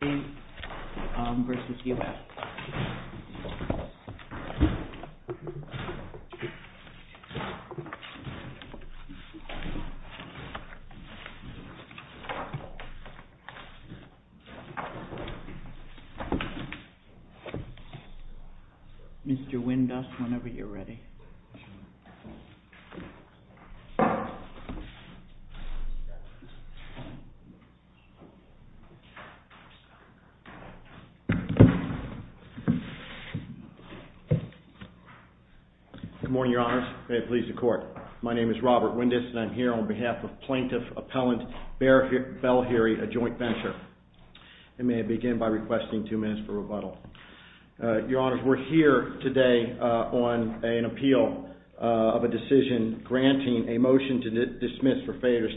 v. U.S. Mr. Windus, whenever you're ready. Good morning, Your Honors. May it please the Court. My name is Robert Windus, and I'm here on behalf of Plaintiff Appellant Bell Heery, a joint venture. And may I begin by requesting two minutes for rebuttal. Your Honors, we're here today on an appeal of a decision granting a motion to dismiss for failure to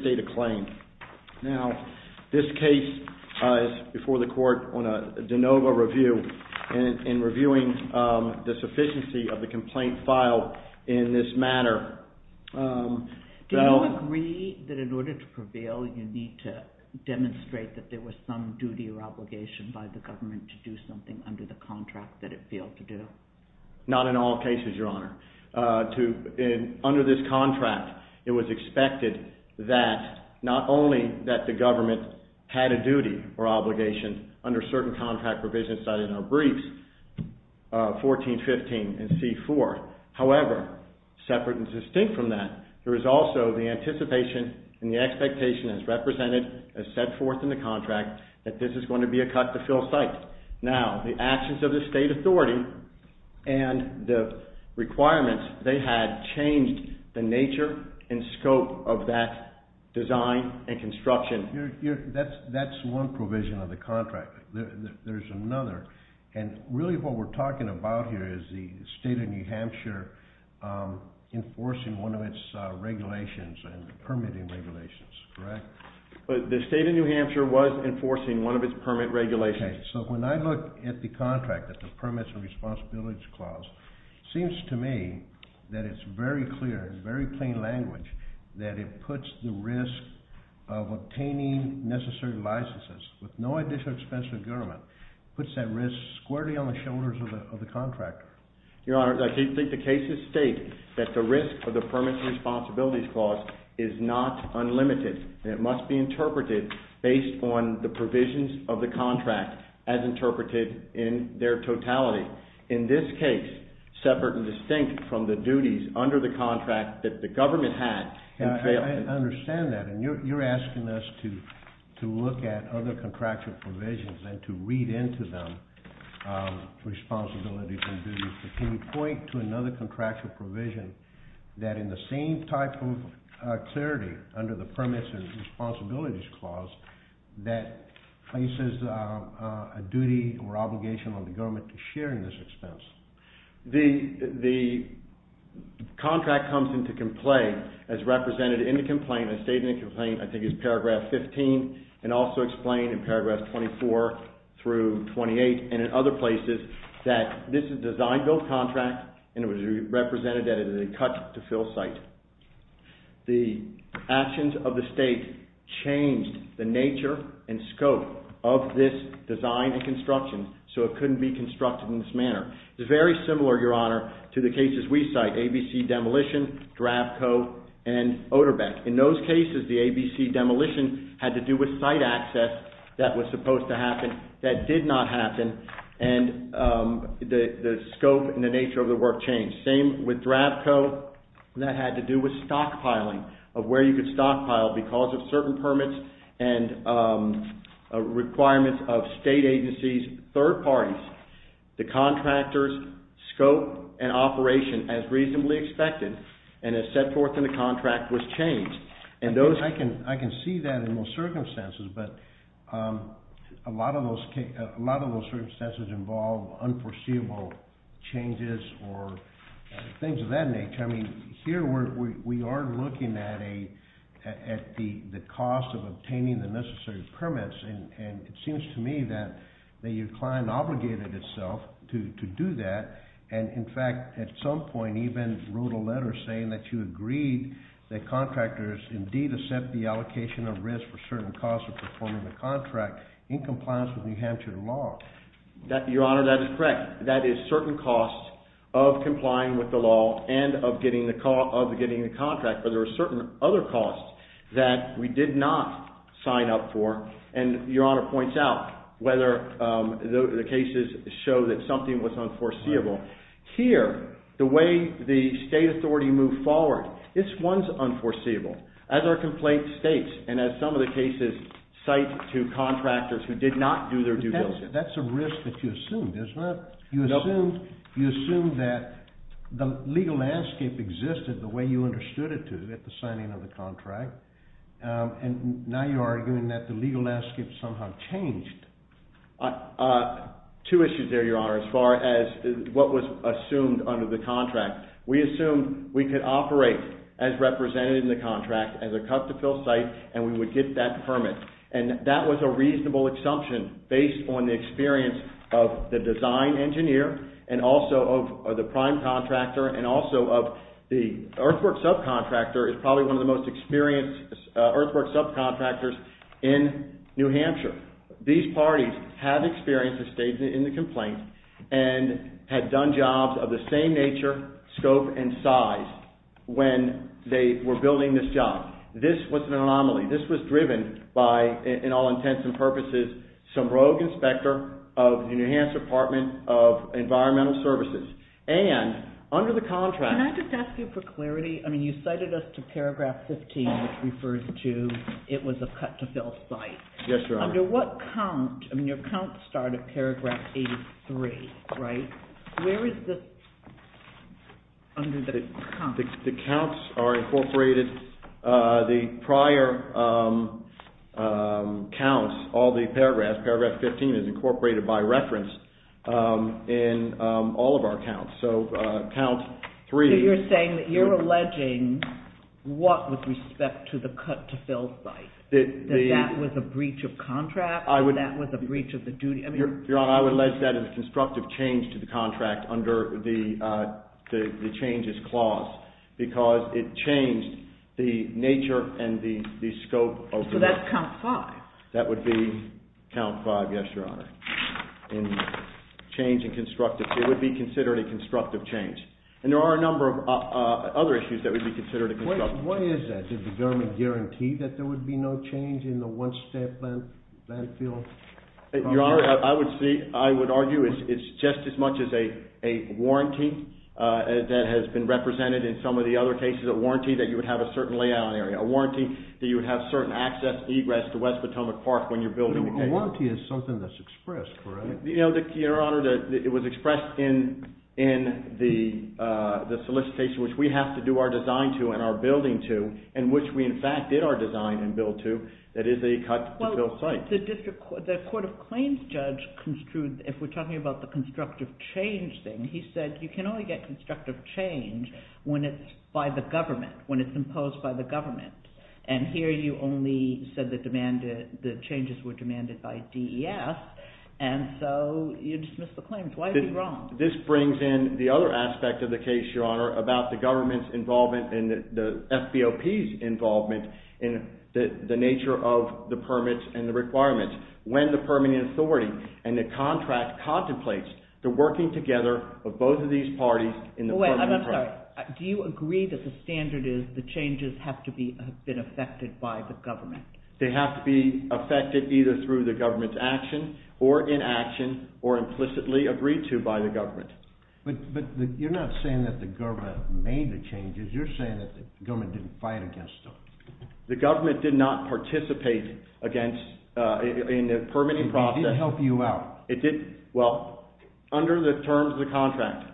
state a claim. Now, this case is before the Court on a de novo review and reviewing the sufficiency of the complaint filed in this matter. Do you agree that in order to prevail, you need to demonstrate that there was some duty or obligation by the government to do something under the contract that it failed to do? Not in all cases, Your Honor. Under this contract, it was expected that not only that the government had a duty or obligation under certain contract provisions cited in our briefs, 1415 and C-4. However, separate and distinct from that, there is also the anticipation and the expectation as represented, as set forth in the contract, that this is going to be a cut to fill site. Now, the actions of the State Authority and the requirements they had changed the nature and scope of that design and construction. That's one provision of the contract. There's another. And really what we're talking about here is the State of New Hampshire enforcing one of its regulations and permitting regulations, correct? The State of New Hampshire was enforcing one of its permit regulations. Okay. So when I look at the contract, at the Permits and Responsibilities Clause, it seems to me that it's very clear, in very plain language, that it puts the risk of obtaining necessary licenses with no additional expense to the government. It puts that risk squarely on the shoulders of the contractor. Your Honor, I think the cases state that the risk of the Permits and Responsibilities Clause is not unlimited, and it must be interpreted based on the provisions of the contract as interpreted in their totality. In this case, separate and distinct from the duties under the contract that the government had, it failed. I understand that, and you're asking us to look at other contractual provisions and to read into them responsibilities and duties. But can you point to another contractual provision that, in the same type of clarity under the Permits and Responsibilities Clause, that places a duty or obligation on the government to share in this expense? The contract comes into play as represented in the complaint. It's stated in the complaint, I think it's paragraph 15, and also explained in paragraph 24 through 28, and in other places, that this is a design-build contract, and it was represented as a cut-to-fill site. The actions of the State changed the nature and scope of this design and construction so it couldn't be constructed in this manner. It's very similar, Your Honor, to the cases we cite, ABC demolition, DRABCO, and ODERBECK. In those cases, the ABC demolition had to do with site access that was supposed to happen that did not happen, and the scope and the nature of the work changed. Same with DRABCO, that had to do with stockpiling, of where you could stockpile because of certain permits and requirements of state agencies, third parties. The contractor's scope and operation, as reasonably expected and as set forth in the contract, was changed. I can see that in most circumstances, but a lot of those circumstances involve unforeseeable changes or things of that nature. Here, we are looking at the cost of obtaining the necessary permits, and it seems to me that your client obligated itself to do that. In fact, at some point, he even wrote a letter saying that you agreed that contractors indeed accept the allocation of risk for certain costs of performing the contract in compliance with New Hampshire law. Your Honor, that is correct. That is certain costs of complying with the law and of getting the contract, but there are certain other costs that we did not sign up for. And your Honor points out whether the cases show that something was unforeseeable. Here, the way the state authority moved forward, this one's unforeseeable, as our complaint states and as some of the cases cite to contractors who did not do their due diligence. That's a risk that you assumed, isn't it? You assumed that the legal landscape existed the way you understood it to at the signing of the contract. And now you're arguing that the legal landscape somehow changed. Two issues there, your Honor, as far as what was assumed under the contract. We assumed we could operate as represented in the contract as a cut-to-fill site, and we would get that permit. And that was a reasonable assumption based on the experience of the design engineer, and also of the prime contractor, and also of the earthworks subcontractor is probably one of the most experienced earthworks subcontractors in New Hampshire. These parties have experienced a statement in the complaint and had done jobs of the same nature, scope, and size when they were building this job. This was an anomaly. This was driven by, in all intents and purposes, some rogue inspector of the New Hampshire Department of Environmental Services. And under the contract... Can I just ask you for clarity? I mean, you cited us to paragraph 15, which refers to it was a cut-to-fill site. Yes, Your Honor. Under what count, I mean, your count started paragraph 83, right? Where is this under the count? The counts are incorporated. The prior counts, all the paragraphs, paragraph 15 is incorporated by reference in all of our counts. So count 3... So you're saying that you're alleging what with respect to the cut-to-fill site, that that was a breach of contract and that was a breach of the duty? Your Honor, I would allege that it was constructive change to the contract under the changes clause, because it changed the nature and the scope of the... So that's count 5? That would be count 5, yes, Your Honor. In change and constructive, it would be considered a constructive change. And there are a number of other issues that would be considered a constructive change. What is that? Did the government guarantee that there would be no change in the one-step landfill? Your Honor, I would argue it's just as much as a warranty that has been represented in some of the other cases. A warranty that you would have a certain layout area. A warranty that you would have certain access, egress to West Potomac Park when you're building... A warranty is something that's expressed, correct? Your Honor, it was expressed in the solicitation which we have to do our design to and our building to, and which we, in fact, did our design and build to, that is a cut-to-fill site. But the Court of Claims judge construed, if we're talking about the constructive change thing, he said you can only get constructive change when it's by the government, when it's imposed by the government. And here you only said the changes were demanded by DES, and so you dismissed the claims. Why is he wrong? This brings in the other aspect of the case, Your Honor, about the government's involvement and the FBOP's involvement in the nature of the permits and the requirements. When the permitting authority and the contract contemplates the working together of both of these parties in the permitting process... Wait, I'm sorry. Do you agree that the standard is the changes have to have been effected by the government? They have to be effected either through the government's action or inaction or implicitly agreed to by the government. But you're not saying that the government made the changes. You're saying that the government didn't fight against them. The government did not participate in the permitting process. It didn't help you out. Well, under the terms of the contract,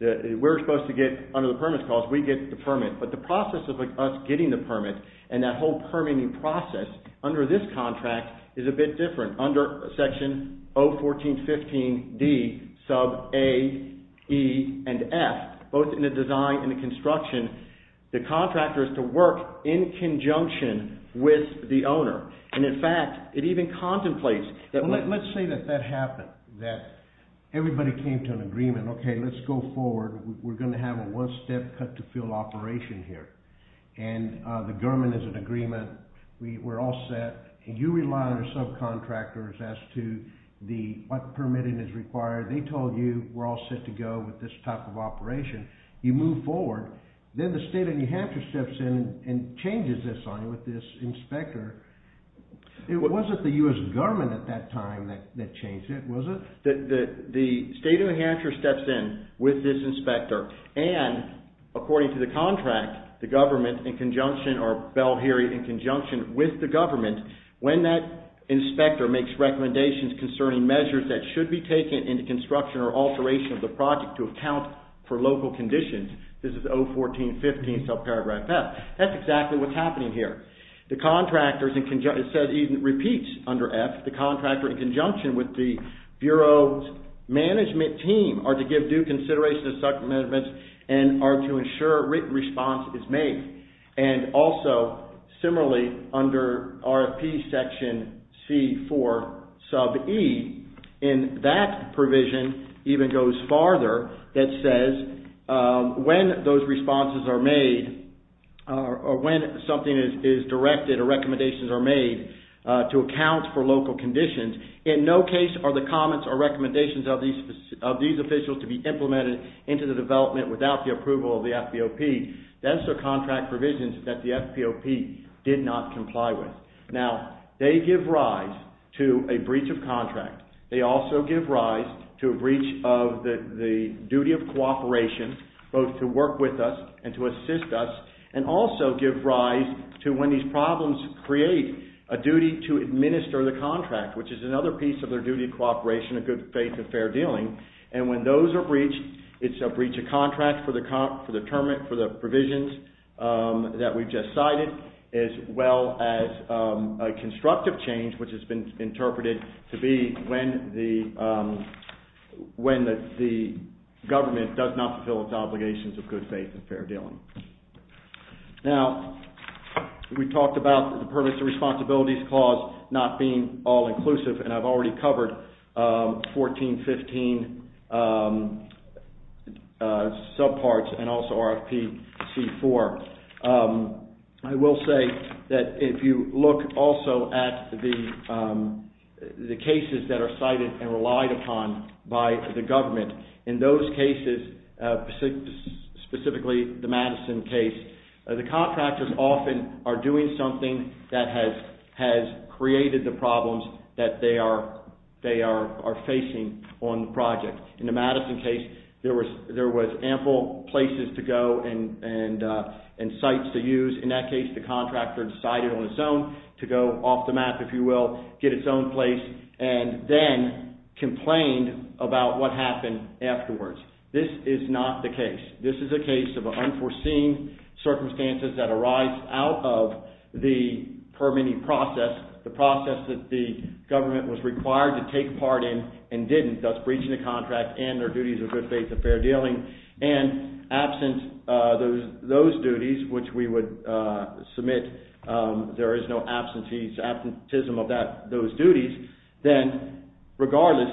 we're supposed to get, under the permits clause, we get the permit. But the process of us getting the permit and that whole permitting process under this contract is a bit different. Under section 01415D sub A, E, and F, both in the design and the construction, the contractor is to work in conjunction with the owner. And in fact, it even contemplates... Well, let's say that that happened, that everybody came to an agreement. Okay, let's go forward. We're going to have a one-step cut-to-fill operation here. And the government is in agreement. We're all set. You rely on your subcontractors as to what permitting is required. They told you we're all set to go with this type of operation. You move forward. Then the state of New Hampshire steps in and changes this on you with this inspector. It wasn't the U.S. government at that time that changed it, was it? The state of New Hampshire steps in with this inspector. And, according to the contract, the government, in conjunction, or Bellheary, in conjunction with the government, when that inspector makes recommendations concerning measures that should be taken in the construction or alteration of the project to account for local conditions, this is 01415 subparagraph F, that's exactly what's happening here. The contractors, it says, even repeats under F, the contractor in conjunction with the Bureau's management team are to give due consideration to subcommitments and are to ensure written response is made. And also, similarly, under RFP section C4 sub E, in that provision, even goes farther, that says when those responses are made, or when something is directed or recommendations are made to account for local conditions, in no case are the comments or recommendations of these officials to be implemented into the development without the approval of the FBOP. That's the contract provisions that the FBOP did not comply with. Now, they give rise to a breach of contract. They also give rise to a breach of the duty of cooperation, both to work with us and to assist us, and also give rise to when these problems create a duty to administer the contract, which is another piece of their duty of cooperation, a good faith and fair dealing. And when those are breached, it's a breach of contract for the provisions that we've just cited, as well as a constructive change, which has been interpreted to be when the government does not fulfill its obligations of good faith and fair dealing. Now, we talked about the Permanent Responsibilities Clause not being all-inclusive, and I've already covered 1415 subparts and also RFP C4. I will say that if you look also at the cases that are cited and relied upon by the government, in those cases, specifically the Madison case, the contractors often are doing something that has created the problems that they are facing on the project. In the Madison case, there was ample places to go and sites to use. In that case, the contractor decided on its own to go off the map, if you will, get its own place, and then complained about what happened afterwards. This is not the case. This is a case of unforeseen circumstances that arise out of the permitting process, the process that the government was required to take part in and didn't, thus breaching the contract and their duties of good faith and fair dealing, and absent those duties, which we would submit there is no absenteeism of those duties, then regardless,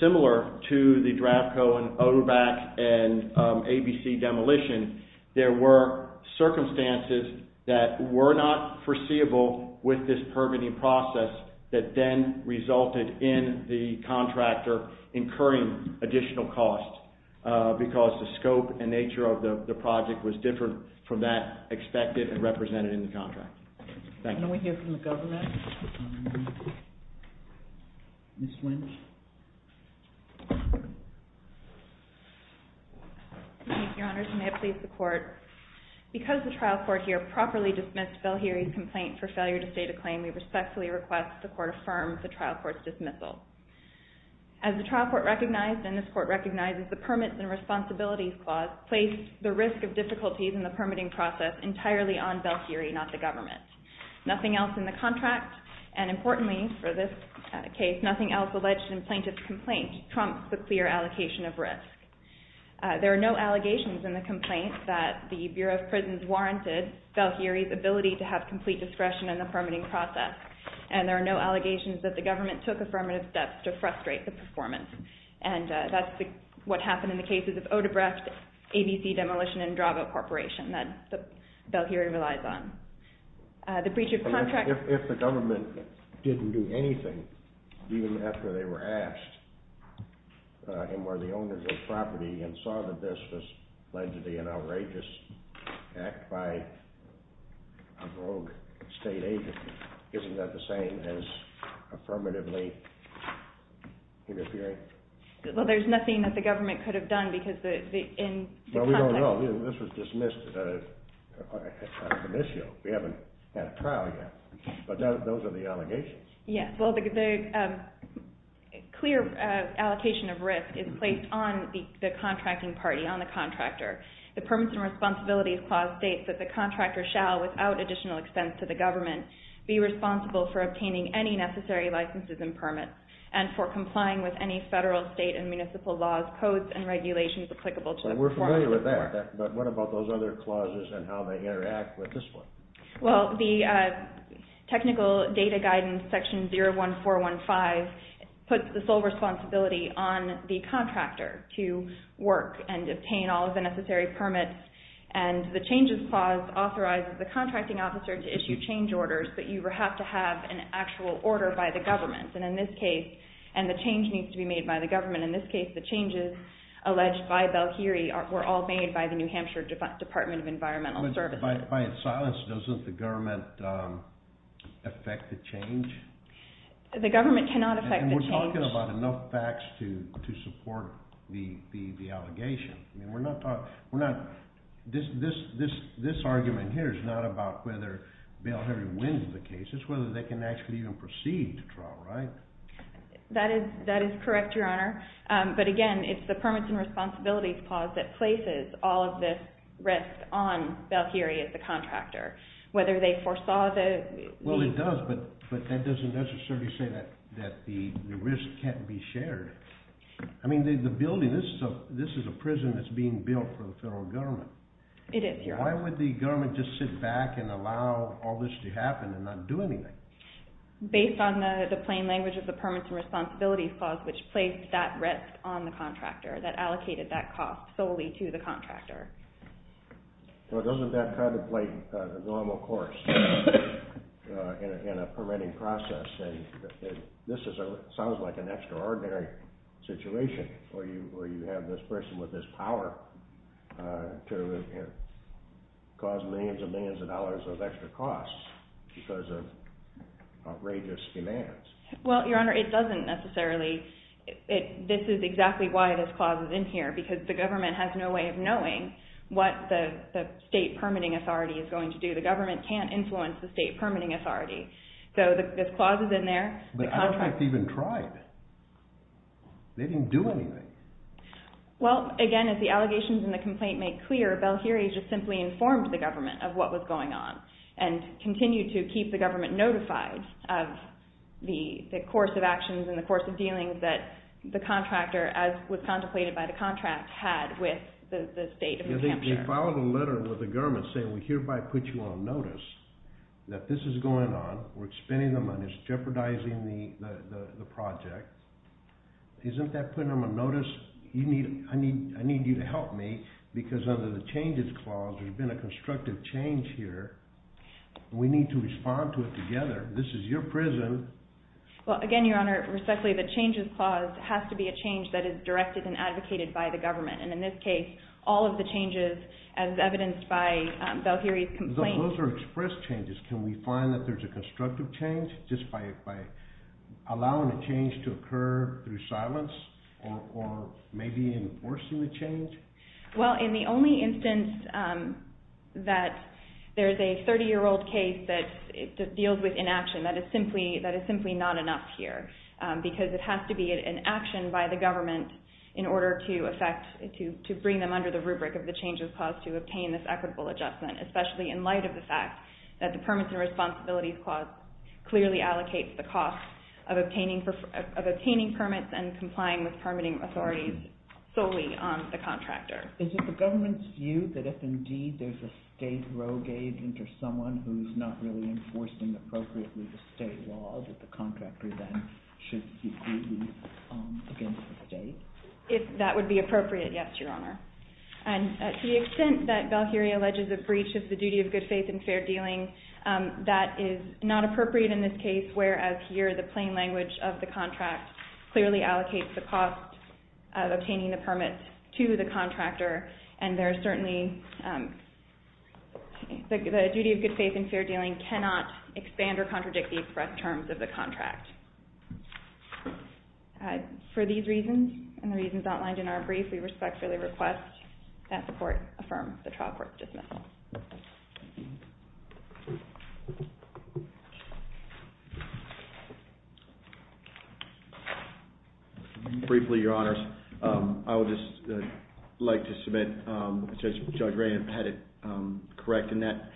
similar to the DRAFCO and OVAC and ABC demolition, there were circumstances that were not foreseeable with this permitting process that then resulted in the contractor incurring additional costs because the scope and nature of the project was different from that expected and represented in the contract. Thank you. Can we hear from the government? Ms. Lynch? Thank you, Your Honors. May it please the Court. Because the trial court here properly dismissed Belheri's complaint for failure to state a claim, we respectfully request the Court affirm the trial court's dismissal. As the trial court recognized, and this Court recognizes, the Permits and Responsibilities Clause placed the risk of difficulties in the permitting process entirely on Belheri, not the government. Nothing else in the contract, and importantly for this case, nothing else alleged in plaintiff's complaint trumps the clear allocation of risk. There are no allegations in the complaint that the Bureau of Prisons warranted Belheri's ability to have complete discretion in the permitting process, and there are no allegations that the government took affirmative steps to frustrate the performance, and that's what happened in the cases of Odebrecht, ABC demolition, and Drago Corporation that Belheri relies on. If the government didn't do anything, even after they were asked, and were the owners of property and saw that this was allegedly an outrageous act by a rogue state agent, isn't that the same as affirmatively interfering? Well, there's nothing that the government could have done because in the contract... Well, we don't know. This was dismissed as an issue. We haven't had a trial yet, but those are the allegations. Yes. Well, the clear allocation of risk is placed on the contracting party, on the contractor. The Permits and Responsibilities Clause states that the contractor shall, without additional expense to the government, be responsible for obtaining any necessary licenses and permits, and for complying with any federal, state, and municipal laws, codes, and regulations applicable to the performance report. We're familiar with that, but what about those other clauses and how they interact with this one? Well, the Technical Data Guidance Section 01415 puts the sole responsibility on the contractor to work and obtain all of the necessary permits, and the Changes Clause authorizes the contracting officer to issue change orders, but you have to have an actual order by the government, and in this case, the change needs to be made by the government. And in this case, the changes alleged by Belhiri were all made by the New Hampshire Department of Environmental Services. But by its silence, doesn't the government affect the change? The government cannot affect the change. And we're talking about enough facts to support the allegation. I mean, we're not talking, we're not, this argument here is not about whether Belhiri wins the case, it's whether they can actually even proceed to trial, right? That is correct, Your Honor. But again, it's the Permits and Responsibilities Clause that places all of this risk on Belhiri as the contractor, whether they foresaw the... Well, it does, but that doesn't necessarily say that the risk can't be shared. I mean, the building, this is a prison that's being built for the federal government. It is, Your Honor. Why would the government just sit back and allow all this to happen and not do anything? Based on the plain language of the Permits and Responsibilities Clause, which placed that risk on the contractor, that allocated that cost solely to the contractor. Well, doesn't that kind of play the normal course in a permitting process? And this sounds like an extraordinary situation, where you have this person with this power to cause millions and millions of dollars of extra costs because of outrageous demands. Well, Your Honor, it doesn't necessarily... This is exactly why this clause is in here, because the government has no way of knowing what the state permitting authority is going to do. The government can't influence the state permitting authority. So this clause is in there. But I don't think they even tried. They didn't do anything. Well, again, as the allegations in the complaint make clear, Belhiri just simply informed the government of what was going on and continued to keep the government notified of the course of actions and the course of dealings that the contractor, as was contemplated by the contract, had with the state of New Hampshire. They filed a letter with the government saying, we hereby put you on notice that this is going on, we're spending the money, it's jeopardizing the project. Isn't that putting them on notice? I need you to help me, because under the Changes Clause, there's been a constructive change here, and we need to respond to it together. This is your prison. Well, again, Your Honor, respectfully, the Changes Clause has to be a change that is directed and advocated by the government. And in this case, all of the changes, as evidenced by Belhiri's complaint... Those are expressed changes. Can we find that there's a constructive change just by allowing a change to occur through silence, or maybe enforcing the change? Well, in the only instance that there's a 30-year-old case that deals with inaction, that is simply not enough here, because it has to be an action by the government in order to bring them under the rubric of the Changes Clause to obtain this equitable adjustment, especially in light of the fact that the Permits and Responsibilities Clause clearly allocates the cost of obtaining permits and complying with permitting authorities solely on the contractor. Is it the government's view that if, indeed, there's a state rogue agent or someone who's not really enforcing appropriately the state law, that the contractor then should be grieved against the state? If that would be appropriate, yes, Your Honor. And to the extent that Belhiri alleges a breach of the duty of good faith and fair dealing, that is not appropriate in this case, whereas here the plain language of the contract clearly allocates the cost of obtaining the permit to the contractor, and there are certainly... The duty of good faith and fair dealing cannot expand or contradict the express terms of the contract. For these reasons, and the reasons outlined in our brief, we respectfully request that the Court affirm the trial court dismissal. Briefly, Your Honors, I would just like to submit, Judge Ray had it correct in that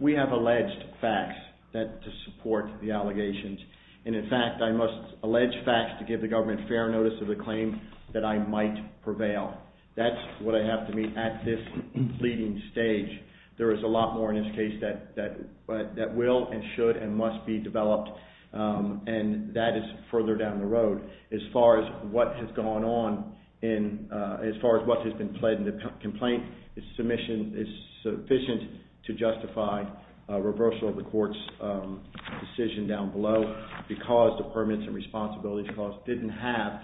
we have alleged facts to support the allegations, and in fact I must allege facts to give the government fair notice of the claim that I might prevail. That's what I have to meet at this leading stage. There is a lot more in this case that will and should and must be developed and that is further down the road. As far as what has gone on in... As far as what has been pled in the complaint, the submission is sufficient to justify a reversal of the Court's decision down below because the Permits and Responsibilities Clause didn't have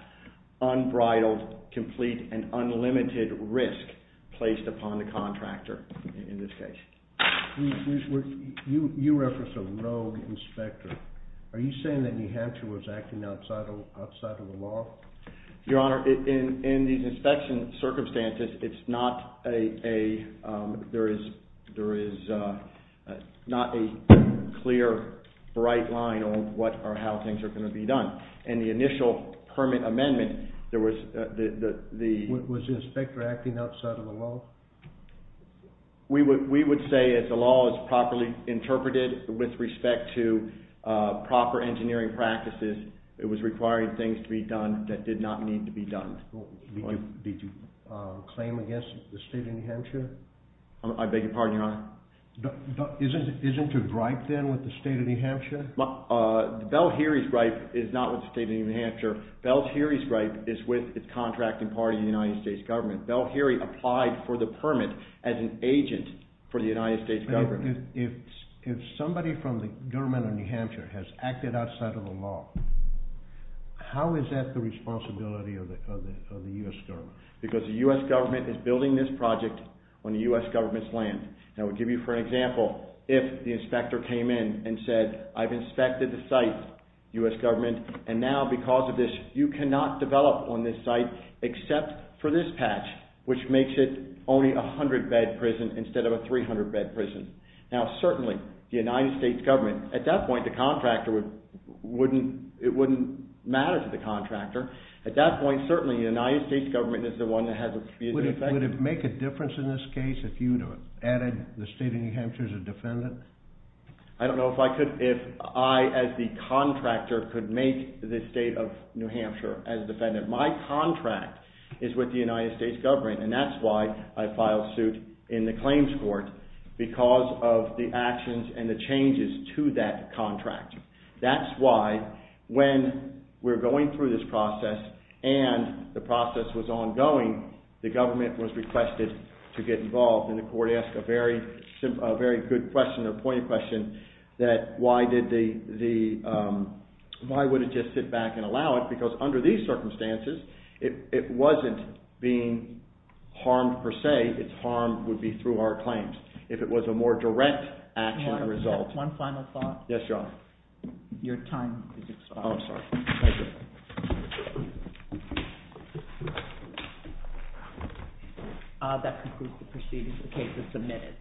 unbridled, complete and unlimited risk placed upon the contractor in this case. You referenced a rogue inspector. Are you saying that New Hampshire was acting outside of the law? Your Honor, in these inspection circumstances, it's not a... There is not a clear, bright line on how things are going to be done. In the initial permit amendment, there was the... Was the inspector acting outside of the law? We would say that the law is properly interpreted with respect to proper engineering practices. It was requiring things to be done that did not need to be done. Did you claim against the State of New Hampshire? I beg your pardon, Your Honor? Isn't it a gripe then with the State of New Hampshire? Bell-Heary's gripe is not with the State of New Hampshire. Bell-Heary's gripe is with the contracting party of the United States government. Bell-Heary applied for the permit as an agent for the United States government. If somebody from the government of New Hampshire has acted outside of the law, how is that the responsibility of the U.S. government? Because the U.S. government is building this project on the U.S. government's land. And I would give you, for example, if the inspector came in and said, I've inspected the site, U.S. government, and now because of this, you cannot develop on this site except for this patch, which makes it only a 100-bed prison instead of a 300-bed prison. Now, certainly, the United States government, at that point, the contractor wouldn't, it wouldn't matter to the contractor. At that point, certainly, the United States government is the one that has a... Would it make a difference in this case if you had added the State of New Hampshire as a defendant? I don't know if I could, if I, as the contractor, could make the State of New Hampshire as defendant. My contract is with the United States government, and that's why I filed suit in the claims court, because of the actions and the changes to that contract. That's why, when we're going through this process, and the process was ongoing, the government was requested to get involved, and the court asked a very good question, a pointed question, that why did the... Why would it just sit back and allow it? Because under these circumstances, it wasn't being harmed per se. Its harm would be through our claims. If it was a more direct action result... One final thought. Yes, Your Honor. Your time is up. Oh, I'm sorry. Thank you. That concludes the proceedings. The case is submitted.